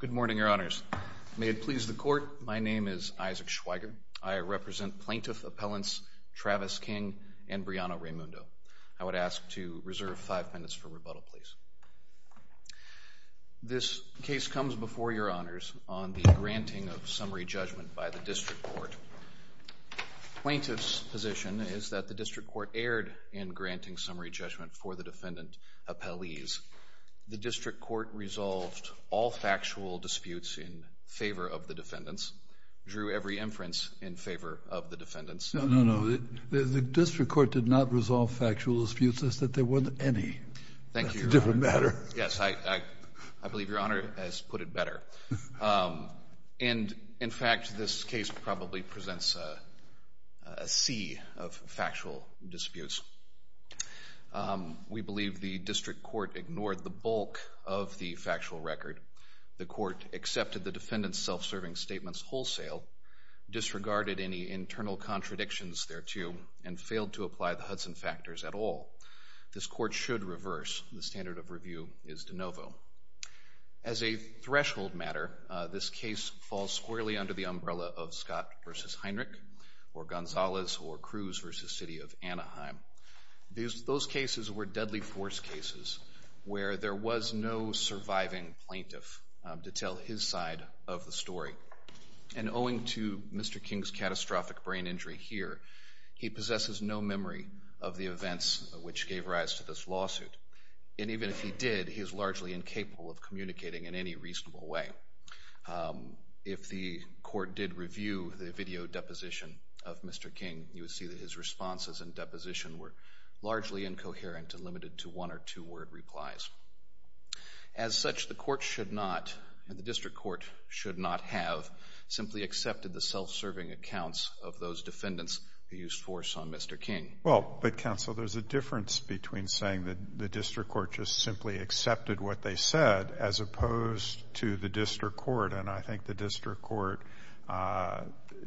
Good morning, your honors. May it please the court, my name is Isaac Schweiger. I represent plaintiff appellants Travis King and Brianna Raimundo. I would ask to reserve five minutes for rebuttal, please. This case comes before your honors on the granting of summary judgment by the district court. The plaintiff's position is that the district court erred in granting summary judgment for the defendant appellees. The district court resolved all factual disputes in favor of the defendants, drew every inference in favor of the defendants. No, no, no. The district court did not resolve factual disputes as if there were any. Thank you, your honor. That's a different matter. Yes, I believe your honor has put it better. And, in fact, this case probably presents a sea of factual disputes. We believe the district court ignored the bulk of the factual record. The court accepted the defendant's self-serving statements wholesale, disregarded any internal contradictions thereto, and failed to apply the Hudson factors at all. This court should reverse. The standard of review is de novo. As a threshold matter, this case falls squarely under the umbrella of Scott v. Heinrich or Gonzalez or Cruz v. City of Anaheim. Those cases were deadly force cases where there was no surviving plaintiff to tell his side of the story. And owing to Mr. King's catastrophic brain injury here, he possesses no memory of the events which gave rise to this lawsuit. And even if he did, he is largely incapable of communicating in any reasonable way. If the court did review the video deposition of Mr. King, you would see that his responses and deposition were largely incoherent and limited to one or two word replies. As such, the court should not, and the district court should not have, simply accepted the self-serving accounts of those defendants who used force on Mr. King. Well, but counsel, there's a difference between saying that the district court just simply accepted what they said as opposed to the district court. And I think the district court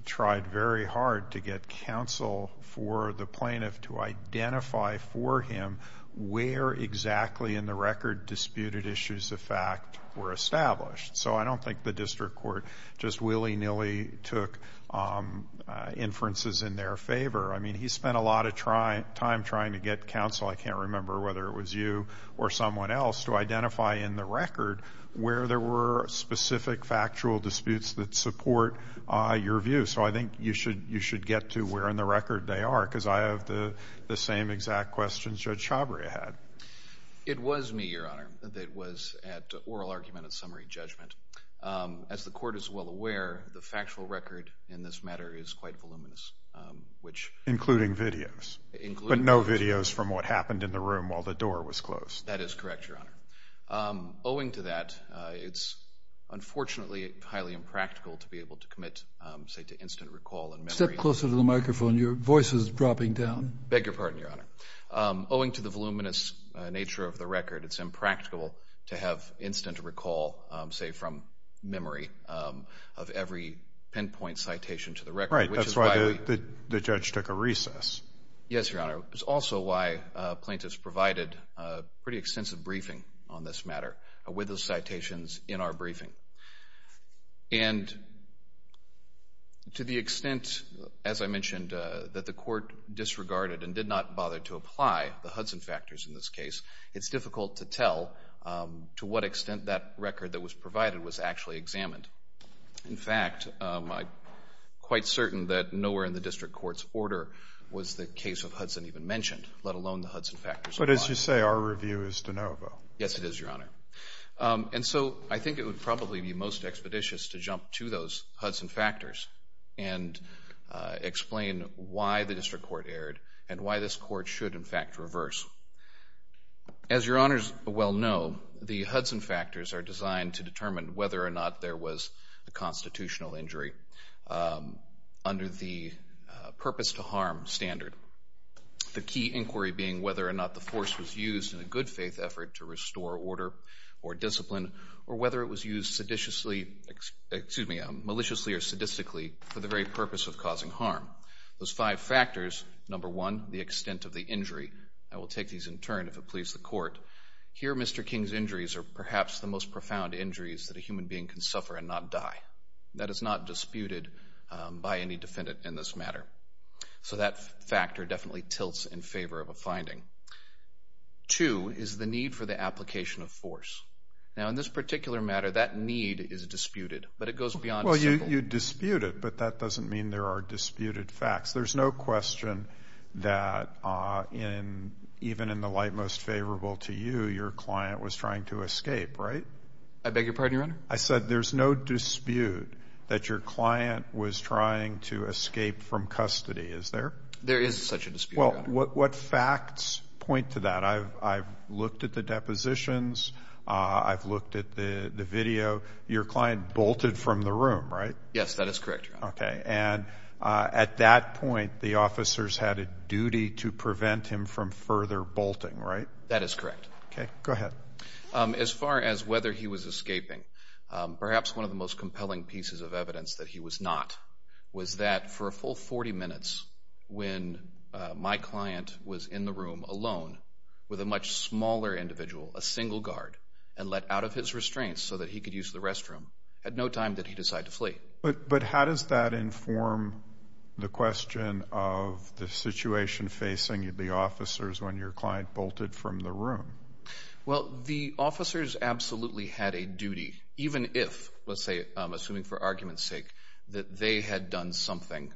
tried very hard to get counsel for the plaintiff to identify for him where exactly in the record disputed issues of fact were established. So I don't think the district court just willy-nilly took inferences in their favor. I mean, he spent a lot of time trying to get counsel, I can't remember whether it was you or someone else, to identify in the record where there were specific factual disputes that support your view. So I think you should get to where in the record they are, because I have the same exact questions Judge Chabria had. It was me, Your Honor, that was at oral argument and summary judgment. As the court is well aware, the factual record in this matter is quite voluminous, which- Including videos. Including videos. But no videos from what happened in the room while the door was closed. That is correct, Your Honor. Owing to that, it's unfortunately highly impractical to be able to commit, say, to instant recall and memory- Step closer to the microphone, your voice is dropping down. I beg your pardon, Your Honor. Owing to the voluminous nature of the record, it's impractical to have instant recall, say, from memory, of every pinpoint citation to the record, which is why- Right, that's why the judge took a recess. Yes, Your Honor. It's also why plaintiffs provided a pretty extensive briefing on this matter with those citations in our briefing. And to the extent, as I mentioned, that the court disregarded and did not bother to apply the Hudson factors in this case, it's difficult to tell to what extent that record that was provided was actually examined. In fact, I'm quite certain that nowhere in the district court's order was the case of Hudson even mentioned, let alone the Hudson factors. But as you say, our review is de novo. Yes, it is, Your Honor. And so I think it would probably be most expeditious to jump to those Hudson factors and explain why the district court erred and why this court should, in fact, reverse. As Your Honors well know, the Hudson factors are designed to determine whether or not there was a constitutional injury under the purpose-to-harm standard, the key inquiry being whether or not the force was used in a good-faith effort to restore order or discipline or whether it was used maliciously or sadistically for the very purpose of causing harm. Those five factors, number one, the extent of the injury. I will take these in turn if it pleases the court. Here, Mr. King's injuries are perhaps the most profound injuries that a human being can suffer and not die. That is not disputed by any defendant in this matter. So that factor definitely tilts in favor of a finding. Two is the need for the application of force. Now, in this particular matter, that need is disputed, but it goes beyond a single. Well, you dispute it, but that doesn't mean there are disputed facts. There's no question that even in the light most favorable to you, your client was trying to escape, right? I beg your pardon, Your Honor? I said there's no dispute that your client was trying to escape from custody, is there? There is such a dispute, Your Honor. Well, what facts point to that? I've looked at the depositions. I've looked at the video. Your client bolted from the room, right? Yes, that is correct, Your Honor. Okay. And at that point, the officers had a duty to prevent him from further bolting, right? That is correct. Okay. Go ahead. As far as whether he was escaping, perhaps one of the most compelling pieces of evidence that he was not was that for a full 40 minutes when my client was in the room alone with a much smaller individual, a single guard, and let out of his restraints so that he could use the restroom, at no time did he decide to flee. But how does that inform the question of the situation facing the officers when your client bolted from the room? Well, the officers absolutely had a duty, even if, let's say, I'm assuming for argument's sake, that they had done something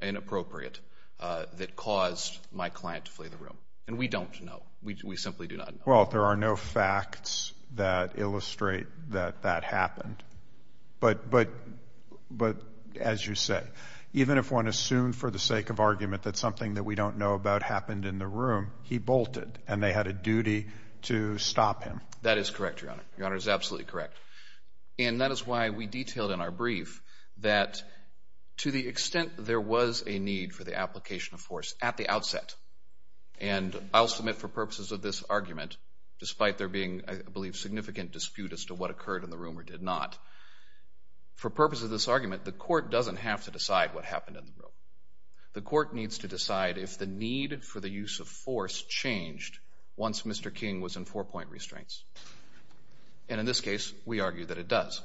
inappropriate that caused my client to flee the room. And we don't know. We simply do not know. Well, there are no facts that illustrate that that happened. But, as you say, even if one assumed for the sake of argument that something that we don't know about happened in the room, he bolted and they had a duty to stop him. That is correct, Your Honor. Your Honor is absolutely correct. And that is why we detailed in our brief that to the extent there was a need for the application of force at the outset, and I'll submit for purposes of this argument, despite there being, I believe, significant dispute as to what occurred in the room or did not, for purposes of this argument, the court doesn't have to decide what happened in the room. The court needs to decide if the need for the use of force changed once Mr. King was in four-point restraints. And in this case, we argue that it does.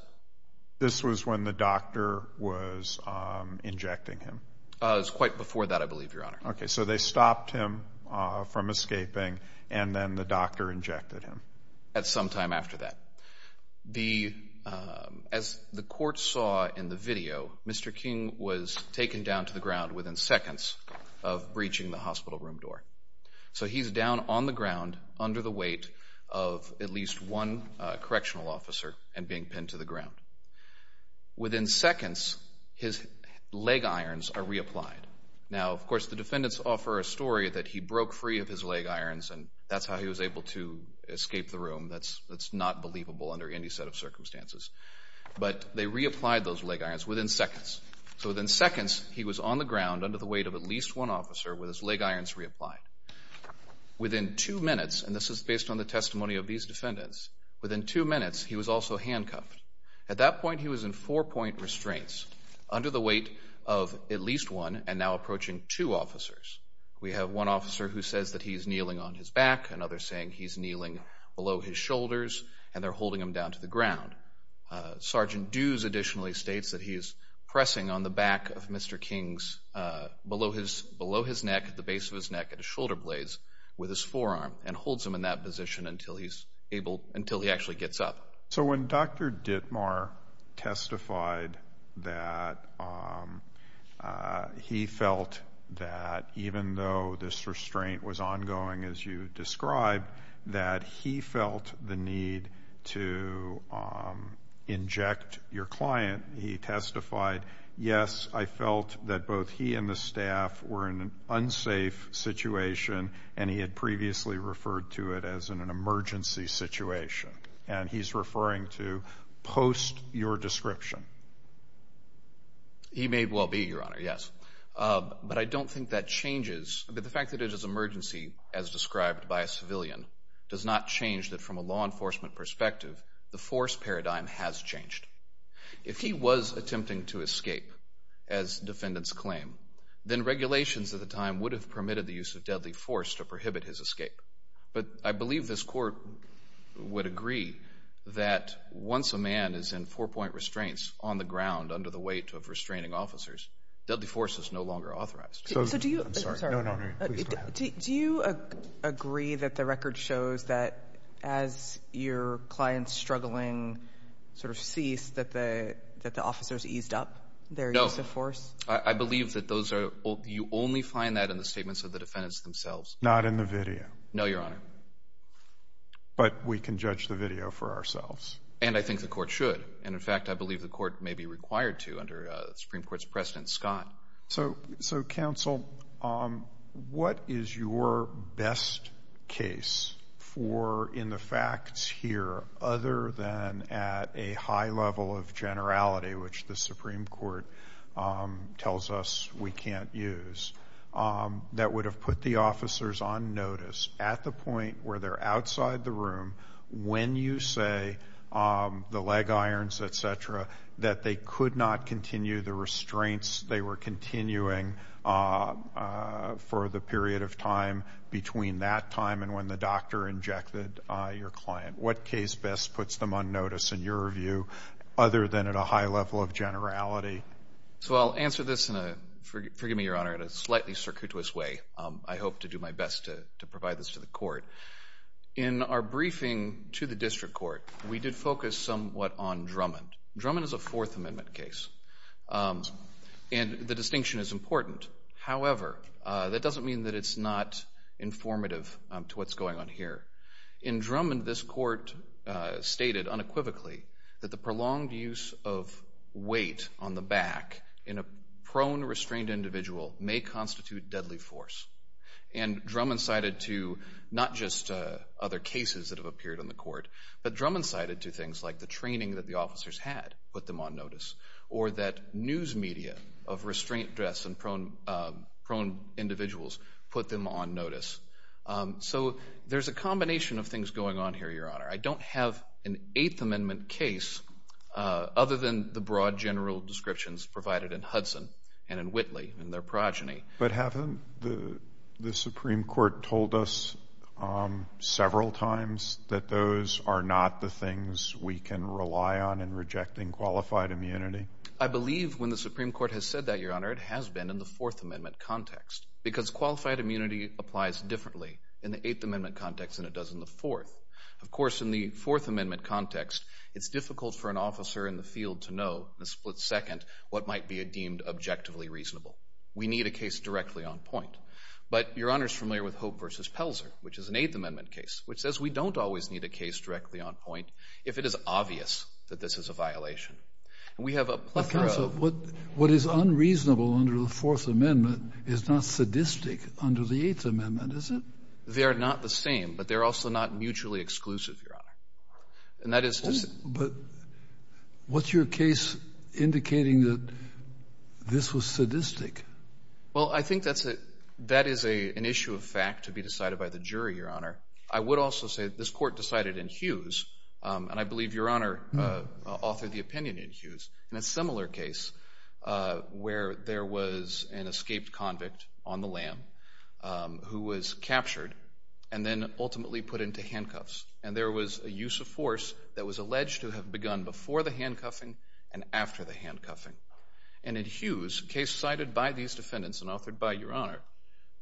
This was when the doctor was injecting him. It was quite before that, I believe, Your Honor. Okay, so they stopped him from escaping, and then the doctor injected him. At some time after that. As the court saw in the video, Mr. King was taken down to the ground within seconds of breaching the hospital room door. So he's down on the ground under the weight of at least one correctional officer and being pinned to the ground. Within seconds, his leg irons are reapplied. Now, of course, the defendants offer a story that he broke free of his leg irons, and that's how he was able to escape the room. That's not believable under any set of circumstances. But they reapplied those leg irons within seconds. So within seconds, he was on the ground under the weight of at least one officer with his leg irons reapplied. Within two minutes, and this is based on the testimony of these defendants, within two minutes, he was also handcuffed. At that point, he was in four-point restraints under the weight of at least one and now approaching two officers. We have one officer who says that he's kneeling on his back, another saying he's kneeling below his shoulders, and they're holding him down to the ground. Sergeant Dews additionally states that he is pressing on the back of Mr. King's, below his neck, at the base of his neck at a shoulder blaze with his forearm and holds him in that position until he actually gets up. So when Dr. Dittmar testified that he felt that even though this restraint was ongoing, as you described, that he felt the need to inject your client, he testified, yes, I felt that both he and the staff were in an unsafe situation, and he had previously referred to it as an emergency situation. And he's referring to post your description. He may well be, Your Honor, yes. But I don't think that changes. The fact that it is an emergency, as described by a civilian, does not change that from a law enforcement perspective, the force paradigm has changed. If he was attempting to escape, as defendants claim, then regulations at the time would have permitted the use of deadly force to prohibit his escape. But I believe this court would agree that once a man is in four-point restraints on the ground under the weight of restraining officers, deadly force is no longer authorized. I'm sorry. No, no. Please go ahead. Do you agree that the record shows that as your client's struggling sort of ceased, that the officers eased up their use of force? No. I believe that you only find that in the statements of the defendants themselves. Not in the video. No, Your Honor. But we can judge the video for ourselves. And I think the court should. And, in fact, I believe the court may be required to under the Supreme Court's precedent, Scott. So, counsel, what is your best case for in the facts here, other than at a high level of generality, which the Supreme Court tells us we can't use, that would have put the officers on notice at the point where they're outside the room, when you say the leg irons, et cetera, that they could not continue the restraints they were continuing for the period of time between that time and when the doctor injected your client? What case best puts them on notice, in your view, other than at a high level of generality? So I'll answer this in a, forgive me, Your Honor, in a slightly circuitous way. I hope to do my best to provide this to the court. In our briefing to the district court, we did focus somewhat on Drummond. Drummond is a Fourth Amendment case, and the distinction is important. However, that doesn't mean that it's not informative to what's going on here. In Drummond, this court stated unequivocally that the prolonged use of weight on the back in a prone, restrained individual may constitute deadly force. And Drummond cited to not just other cases that have appeared on the court, but Drummond cited to things like the training that the officers had put them on notice, or that news media of restrained dress and prone individuals put them on notice. So there's a combination of things going on here, Your Honor. I don't have an Eighth Amendment case other than the broad general descriptions provided in Hudson and in Whitley and their progeny. But haven't the Supreme Court told us several times that those are not the things we can rely on in rejecting qualified immunity? I believe when the Supreme Court has said that, Your Honor, it has been in the Fourth Amendment context, because qualified immunity applies differently in the Eighth Amendment context than it does in the Fourth. Of course, in the Fourth Amendment context, it's difficult for an officer in the field to know, in a split second, what might be deemed objectively reasonable. We need a case directly on point. But Your Honor is familiar with Hope v. Pelzer, which is an Eighth Amendment case, which says we don't always need a case directly on point if it is obvious that this is a violation. What is unreasonable under the Fourth Amendment is not sadistic under the Eighth Amendment, is it? They are not the same, but they're also not mutually exclusive, Your Honor. But what's your case indicating that this was sadistic? Well, I think that is an issue of fact to be decided by the jury, Your Honor. I would also say that this court decided in Hughes, and I believe Your Honor authored the opinion in Hughes, in a similar case where there was an escaped convict on the lam who was captured and then ultimately put into handcuffs. And there was a use of force that was alleged to have begun before the handcuffing and after the handcuffing. And in Hughes, a case cited by these defendants and authored by Your Honor,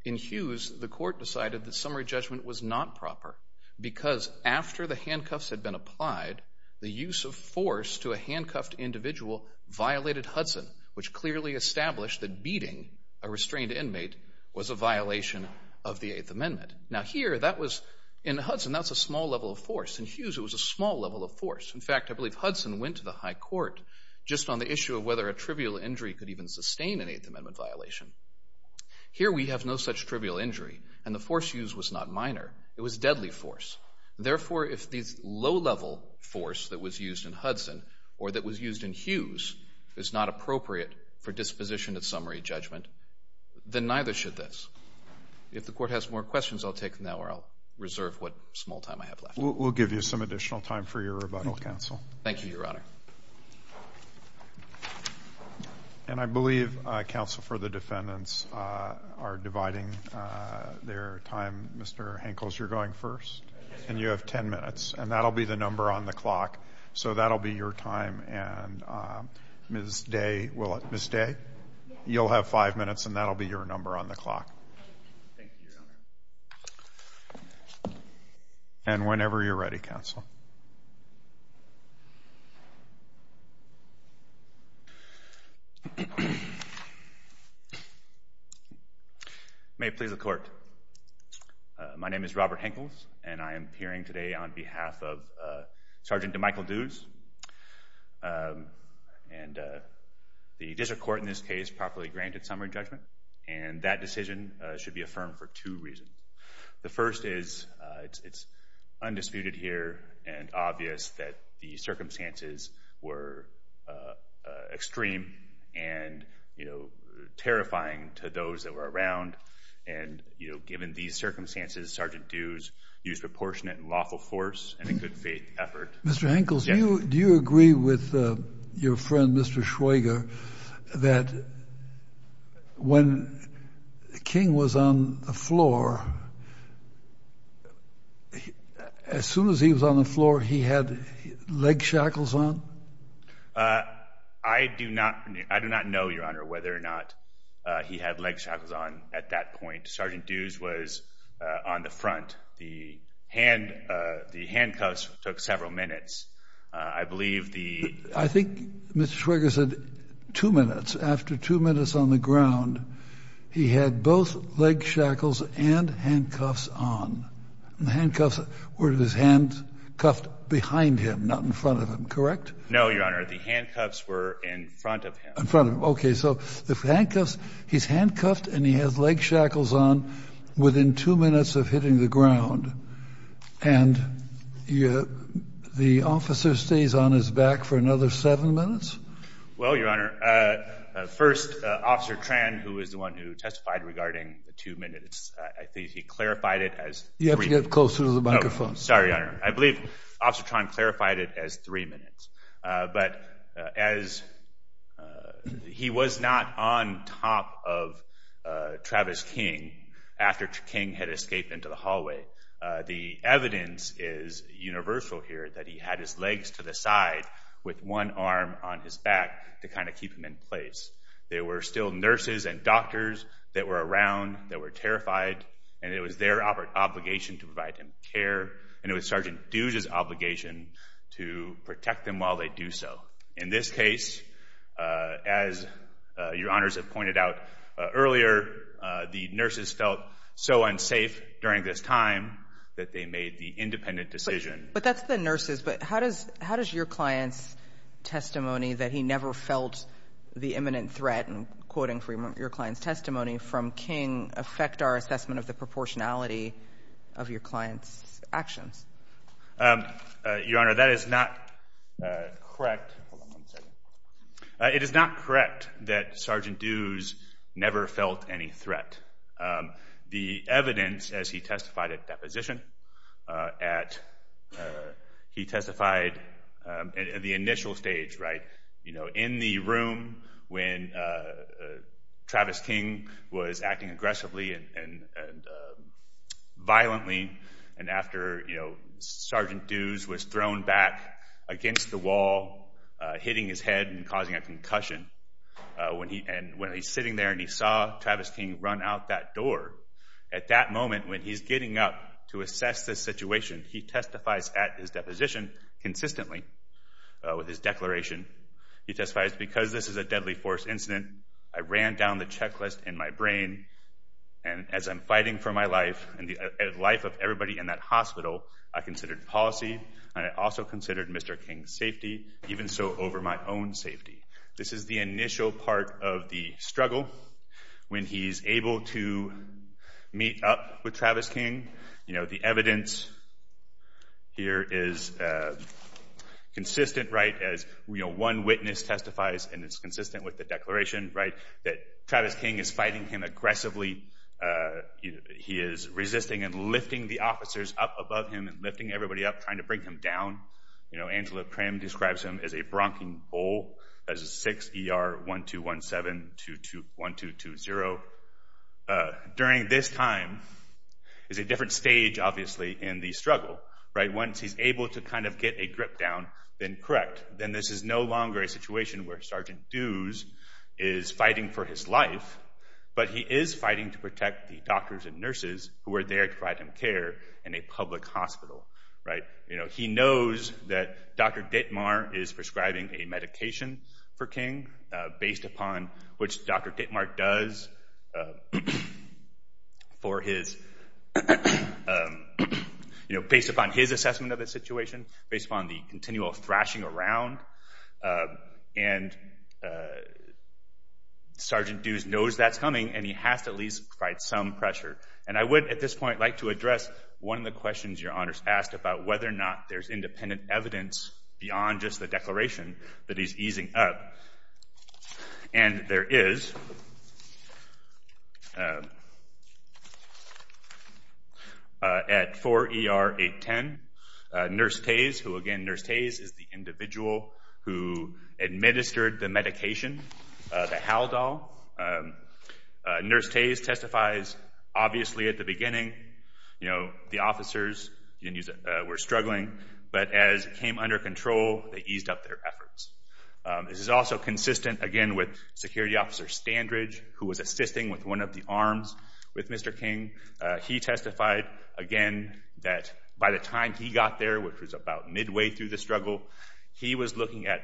in Hughes, the court decided that summary judgment was not proper because after the handcuffs had been applied, the use of force to a handcuffed individual violated Hudson, which clearly established that beating a restrained inmate was a violation of the Eighth Amendment. Now here, that was, in Hudson, that's a small level of force. In Hughes, it was a small level of force. In fact, I believe Hudson went to the high court just on the issue of whether a trivial injury could even sustain an Eighth Amendment violation. Here, we have no such trivial injury, and the force used was not minor. It was deadly force. Therefore, if this low-level force that was used in Hudson or that was used in Hughes is not appropriate for disposition of summary judgment, then neither should this. If the court has more questions, I'll take them now, or I'll reserve what small time I have left. We'll give you some additional time for your rebuttal, counsel. Thank you, Your Honor. And I believe, counsel, for the defendants are dividing their time. Mr. Henkels, you're going first, and you have ten minutes, and that will be the number on the clock. So that will be your time, and Ms. Day, will it? Ms. Day? You'll have five minutes, and that will be your number on the clock. Thank you, Your Honor. And whenever you're ready, counsel. Counsel? May it please the court. My name is Robert Henkels, and I am appearing today on behalf of Sergeant DeMichael Dues. And the district court in this case properly granted summary judgment, and that decision should be affirmed for two reasons. The first is it's undisputed here and obvious that the circumstances were extreme and, you know, terrifying to those that were around. And, you know, given these circumstances, Sergeant Dues used proportionate and lawful force and a good faith effort. Mr. Henkels, do you agree with your friend, Mr. Schweiger, that when King was on the floor, as soon as he was on the floor, he had leg shackles on? I do not know, Your Honor, whether or not he had leg shackles on at that point. Sergeant Dues was on the front. The handcuffs took several minutes. I believe the — I think Mr. Schweiger said two minutes. After two minutes on the ground, he had both leg shackles and handcuffs on. And the handcuffs were his hands cuffed behind him, not in front of him. Correct? No, Your Honor. The handcuffs were in front of him. In front of him. Okay, so the handcuffs — he's handcuffed and he has leg shackles on within two minutes of hitting the ground. And the officer stays on his back for another seven minutes? Well, Your Honor, first, Officer Tran, who was the one who testified regarding the two minutes, I think he clarified it as — You have to get closer to the microphone. Sorry, Your Honor. I believe Officer Tran clarified it as three minutes. But as he was not on top of Travis King after King had escaped into the hallway, the evidence is universal here that he had his legs to the side with one arm on his back to kind of keep him in place. There were still nurses and doctors that were around that were terrified, and it was their obligation to provide him care. And it was Sergeant Duge's obligation to protect them while they do so. In this case, as Your Honors have pointed out earlier, the nurses felt so unsafe during this time that they made the independent decision. But that's the nurses. But how does your client's testimony that he never felt the imminent threat, and quoting from your client's testimony from King, affect our assessment of the proportionality of your client's actions? Your Honor, that is not correct. Hold on one second. It is not correct that Sergeant Duge never felt any threat. The evidence, as he testified at deposition, at — he testified at the initial stage, right, you know, in the room when Travis King was acting aggressively and violently, and after Sergeant Duge was thrown back against the wall, hitting his head and causing a concussion, and when he's sitting there and he saw Travis King run out that door, at that moment when he's getting up to assess the situation, he testifies at his deposition consistently with his declaration. He testifies, because this is a deadly force incident, I ran down the checklist in my brain, and as I'm fighting for my life and the life of everybody in that hospital, I considered policy and I also considered Mr. King's safety, even so over my own safety. This is the initial part of the struggle when he's able to meet up with Travis King. You know, the evidence here is consistent, right, as, you know, one witness testifies, and it's consistent with the declaration, right, that Travis King is fighting him aggressively. He is resisting and lifting the officers up above him and lifting everybody up, trying to bring him down. You know, Angela Krim describes him as a bronching bull, as 6ER-1217-1220. So during this time is a different stage, obviously, in the struggle, right? Once he's able to kind of get a grip down, then correct. Then this is no longer a situation where Sergeant Dews is fighting for his life, but he is fighting to protect the doctors and nurses who are there to provide him care in a public hospital, right? You know, he knows that Dr. Dittmar is prescribing a medication for King, based upon which Dr. Dittmar does for his, you know, based upon his assessment of the situation, based upon the continual thrashing around, and Sergeant Dews knows that's coming and he has to at least provide some pressure. And I would, at this point, like to address one of the questions Your Honors asked about whether or not there's independent evidence beyond just the declaration that he's easing up. And there is. At 4ER-810, Nurse Tays, who again, Nurse Tays is the individual who administered the medication, the Haldol. Nurse Tays testifies, obviously at the beginning, you know, the officers were struggling, but as it came under control, they eased up their efforts. This is also consistent, again, with Security Officer Standridge, who was assisting with one of the arms with Mr. King. He testified, again, that by the time he got there, which was about midway through the struggle, he was looking at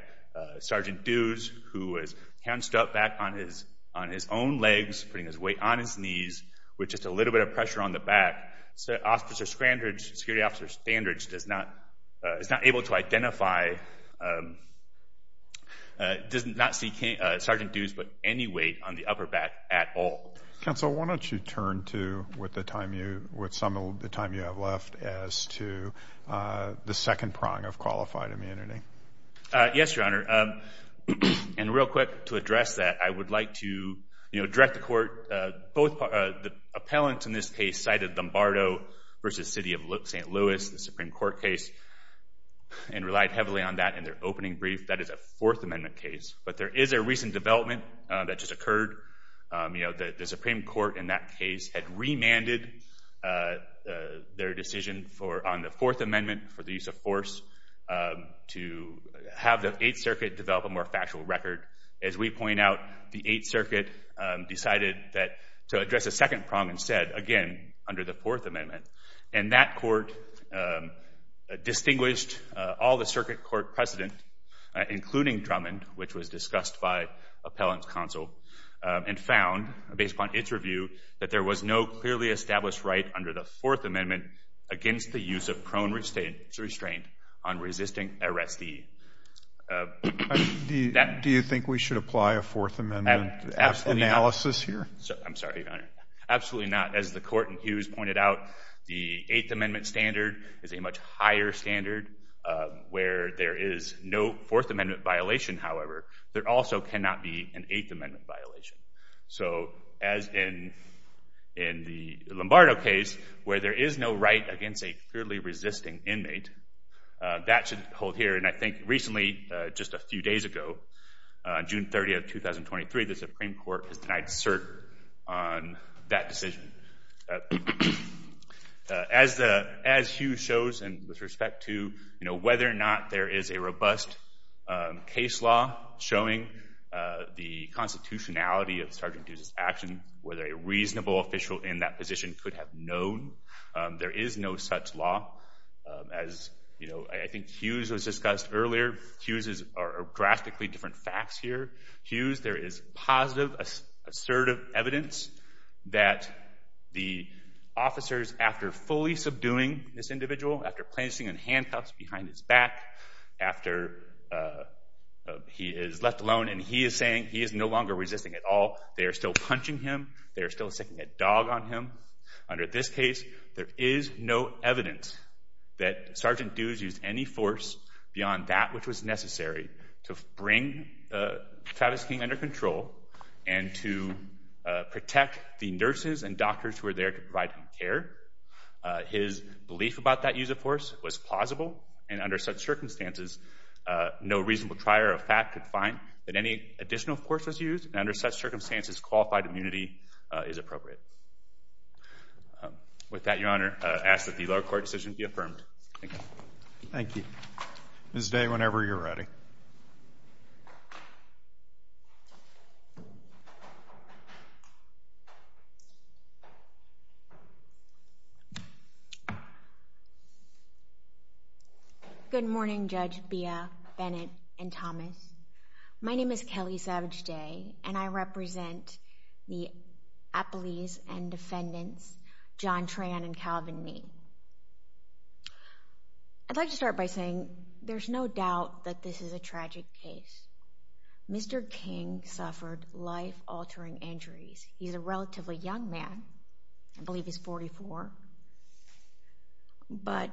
Sergeant Dews, who was canceled up back on his own legs, putting his weight on his knees, with just a little bit of pressure on the back. Security Officer Standridge is not able to identify, does not see Sergeant Dews, but any weight on the upper back at all. Counsel, why don't you turn to, with some of the time you have left, as to the second prong of qualified immunity. Yes, Your Honor. And real quick, to address that, I would like to direct the Court. Both the appellants in this case cited Lombardo v. City of St. Louis, the Supreme Court case, and relied heavily on that in their opening brief. That is a Fourth Amendment case. But there is a recent development that just occurred. The Supreme Court, in that case, had remanded their decision on the Fourth Amendment, for the use of force, to have the Eighth Circuit develop a more factual record. As we point out, the Eighth Circuit decided to address a second prong and said, again, under the Fourth Amendment. And that court distinguished all the circuit court precedent, including Drummond, which was discussed by Appellant Counsel, and found, based upon its review, that there was no clearly established right under the Fourth Amendment against the use of prone restraint on resisting arrestee. Do you think we should apply a Fourth Amendment analysis here? I'm sorry, Your Honor. Absolutely not. As the Court in Hughes pointed out, the Eighth Amendment standard is a much higher standard, where there is no Fourth Amendment violation, however. There also cannot be an Eighth Amendment violation. So, as in the Lombardo case, where there is no right against a clearly resisting inmate, that should hold here. And I think recently, just a few days ago, June 30, 2023, the Supreme Court has denied cert on that decision. As Hughes shows, and with respect to whether or not there is a robust case law showing the constitutionality of Sergeant Dues' action, whether a reasonable official in that position could have known, there is no such law. As I think Hughes was discussed earlier, Hughes' are drastically different facts here. Hughes, there is positive, assertive evidence that the officers, after fully subduing this individual, after placing him in handcuffs behind his back, after he is left alone and he is saying he is no longer resisting at all, they are still punching him, they are still sticking a dog on him. Under this case, there is no evidence that Sergeant Dues used any force beyond that which was necessary to bring Travis King under control and to protect the nurses and doctors who were there to provide him care. His belief about that use of force was plausible, and under such circumstances, no reasonable trier of fact could find that any additional force was used, and under such circumstances, qualified immunity is appropriate. With that, Your Honor, I ask that the lower court decision be affirmed. Thank you. Thank you. Ms. Day, whenever you're ready. Good morning, Judge Beah, Bennett, and Thomas. My name is Kelly Savage Day, and I represent the appellees and defendants John Tran and Calvin Nee. I'd like to start by saying there's no doubt that this is a tragic case. Mr. King suffered life-altering injuries. He's a relatively young man. I believe he's 44. But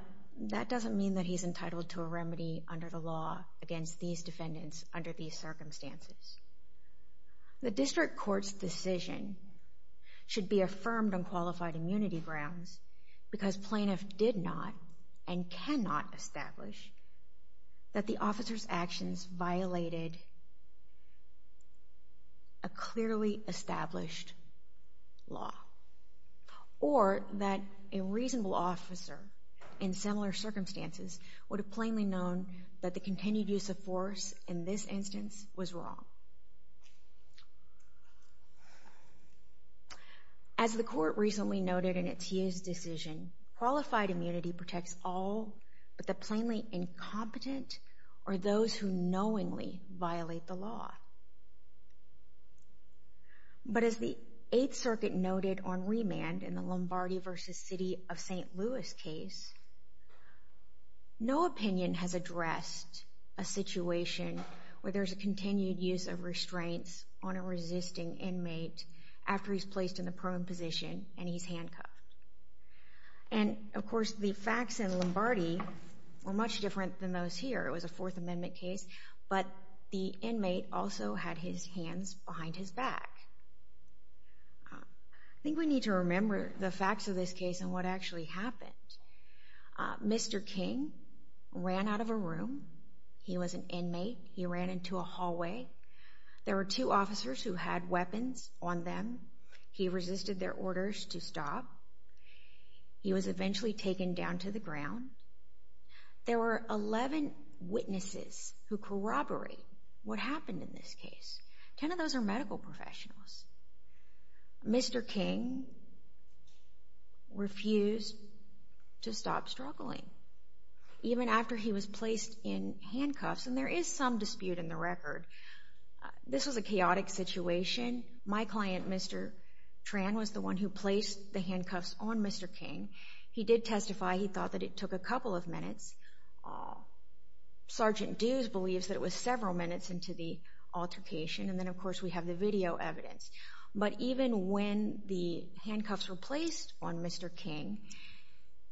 that doesn't mean that he's entitled to a remedy under the law against these defendants under these circumstances. The district court's decision should be affirmed on qualified immunity grounds because plaintiff did not and cannot establish that the officer's actions violated a clearly established law or that a reasonable officer in similar circumstances would have plainly known that the continued use of force in this instance was wrong. As the court recently noted in its year's decision, qualified immunity protects all but the plainly incompetent or those who knowingly violate the law. But as the Eighth Circuit noted on remand in the Lombardi v. City of St. Louis case, no opinion has addressed a situation where there's a continued use of restraints on a resisting inmate after he's placed in the prone position and he's handcuffed. And, of course, the facts in Lombardi were much different than those here. It was a Fourth Amendment case, but the inmate also had his hands behind his back. I think we need to remember the facts of this case and what actually happened. Mr. King ran out of a room. He was an inmate. He ran into a hallway. There were two officers who had weapons on them. He resisted their orders to stop. He was eventually taken down to the ground. There were 11 witnesses who corroborated what happened in this case. Ten of those are medical professionals. Mr. King refused to stop struggling, even after he was placed in handcuffs. And there is some dispute in the record. This was a chaotic situation. My client, Mr. Tran, was the one who placed the handcuffs on Mr. King. He did testify. He thought that it took a couple of minutes. Sergeant Dews believes that it was several minutes into the altercation, and then, of course, we have the video evidence. But even when the handcuffs were placed on Mr. King,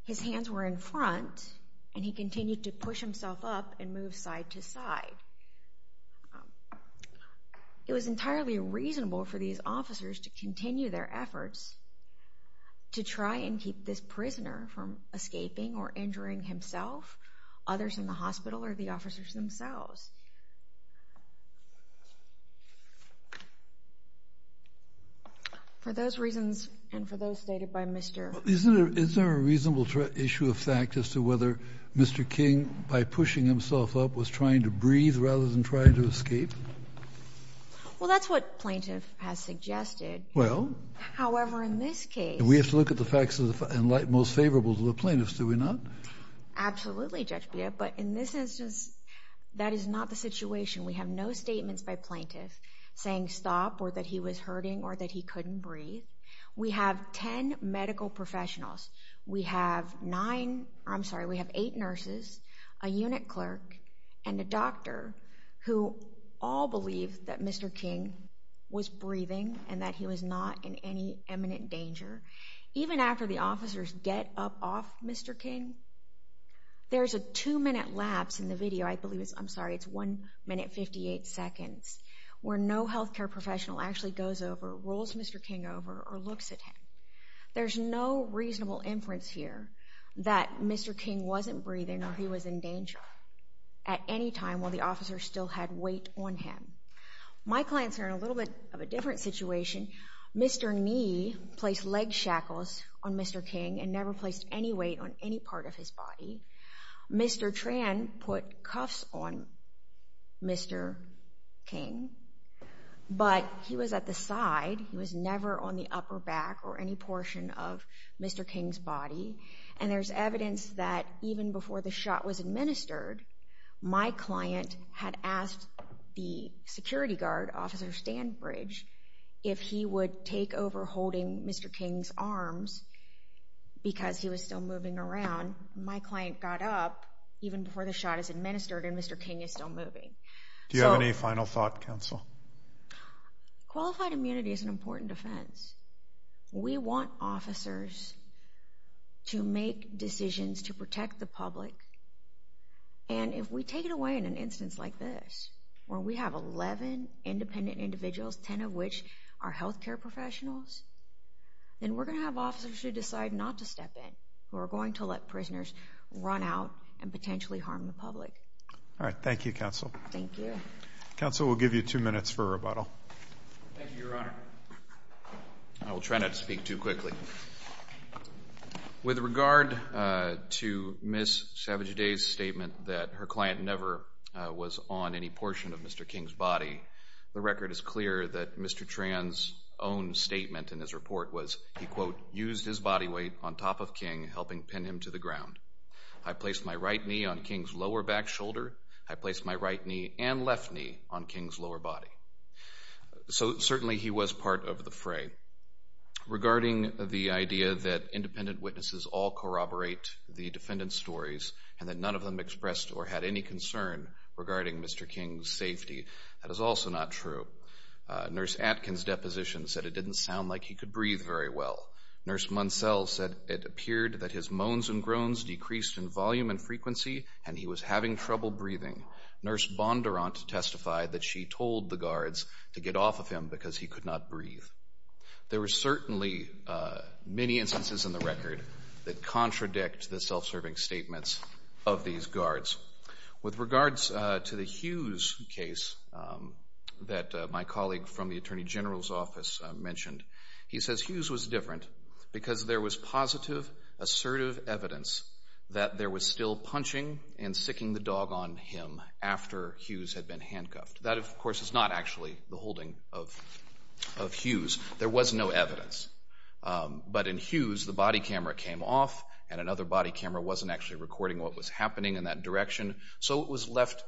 his hands were in front, and he continued to push himself up and move side to side. It was entirely reasonable for these officers to continue their efforts to try and keep this prisoner from escaping or injuring himself, others in the hospital, or the officers themselves. For those reasons and for those stated by Mr. King. Is there a reasonable issue of fact as to whether Mr. King, by pushing himself up, was trying to breathe rather than trying to escape? Well, that's what plaintiff has suggested. Well? However, in this case... We have to look at the facts and like most favorable to the plaintiffs, do we not? Absolutely, Judge Bia, but in this instance, that is not the situation. We have no statements by plaintiffs saying stop or that he was hurting or that he couldn't breathe. We have 10 medical professionals. We have 9, I'm sorry, we have 8 nurses, a unit clerk, and a doctor who all believe that Mr. King was breathing and that he was not in any imminent danger. Even after the officers get up off Mr. King, there's a 2-minute lapse in the video, I'm sorry, it's 1 minute 58 seconds, where no healthcare professional actually goes over, rolls Mr. King over, or looks at him. There's no reasonable inference here that Mr. King wasn't breathing or he was in danger at any time while the officers still had weight on him. My clients are in a little bit of a different situation. Mr. Nee placed leg shackles on Mr. King and never placed any weight on any part of his body. Mr. Tran put cuffs on Mr. King, but he was at the side. He was never on the upper back or any portion of Mr. King's body. And there's evidence that even before the shot was administered, my client had asked the security guard, Officer Standbridge, if he would take over holding Mr. King's arms because he was still moving around. My client got up even before the shot is administered and Mr. King is still moving. Do you have any final thought, counsel? Qualified immunity is an important defense. We want officers to make decisions to protect the public. And if we take it away in an instance like this where we have 11 independent individuals, 10 of which are healthcare professionals, then we're going to have officers who decide not to step in who are going to let prisoners run out and potentially harm the public. All right. Thank you, counsel. Thank you. Counsel, we'll give you two minutes for rebuttal. Thank you, Your Honor. I will try not to speak too quickly. With regard to Ms. Savage-Day's statement that her client never was on any portion of Mr. King's body, the record is clear that Mr. Tran's own statement in his report was, he, quote, used his body weight on top of King, helping pin him to the ground. I placed my right knee on King's lower back shoulder. I placed my right knee and left knee on King's lower body. So certainly he was part of the fray. Regarding the idea that independent witnesses all corroborate the defendant's stories and that none of them expressed or had any concern regarding Mr. King's safety, that is also not true. Nurse Atkins' deposition said it didn't sound like he could breathe very well. Nurse Munsell said it appeared that his moans and groans decreased in volume and frequency and he was having trouble breathing. Nurse Bondurant testified that she told the guards to get off of him because he could not breathe. There were certainly many instances in the record that contradict the self-serving statements of these guards. With regards to the Hughes case that my colleague from the Attorney General's office mentioned, he says Hughes was different because there was positive, assertive evidence that there was still punching and sicking the dog on him after Hughes had been handcuffed. That, of course, is not actually the holding of Hughes. There was no evidence. But in Hughes, the body camera came off and another body camera wasn't actually recording what was happening in that direction, so it was left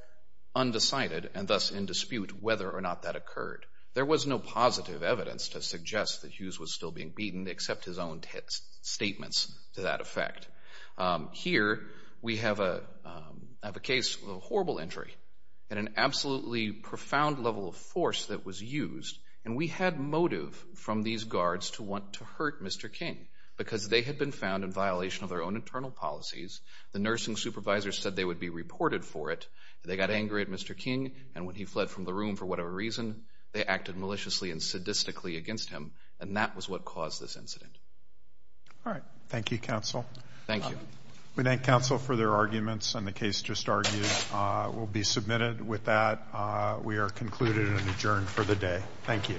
undecided and thus in dispute whether or not that occurred. There was no positive evidence to suggest that Hughes was still being beaten except his own statements to that effect. Here we have a case with a horrible injury and an absolutely profound level of force that was used. And we had motive from these guards to want to hurt Mr. King because they had been found in violation of their own internal policies. The nursing supervisor said they would be reported for it. They got angry at Mr. King and when he fled from the room for whatever reason, they acted maliciously and sadistically against him, and that was what caused this incident. All right. Thank you, counsel. Thank you. We thank counsel for their arguments, and the case just argued will be submitted. With that, we are concluded and adjourned for the day. Thank you.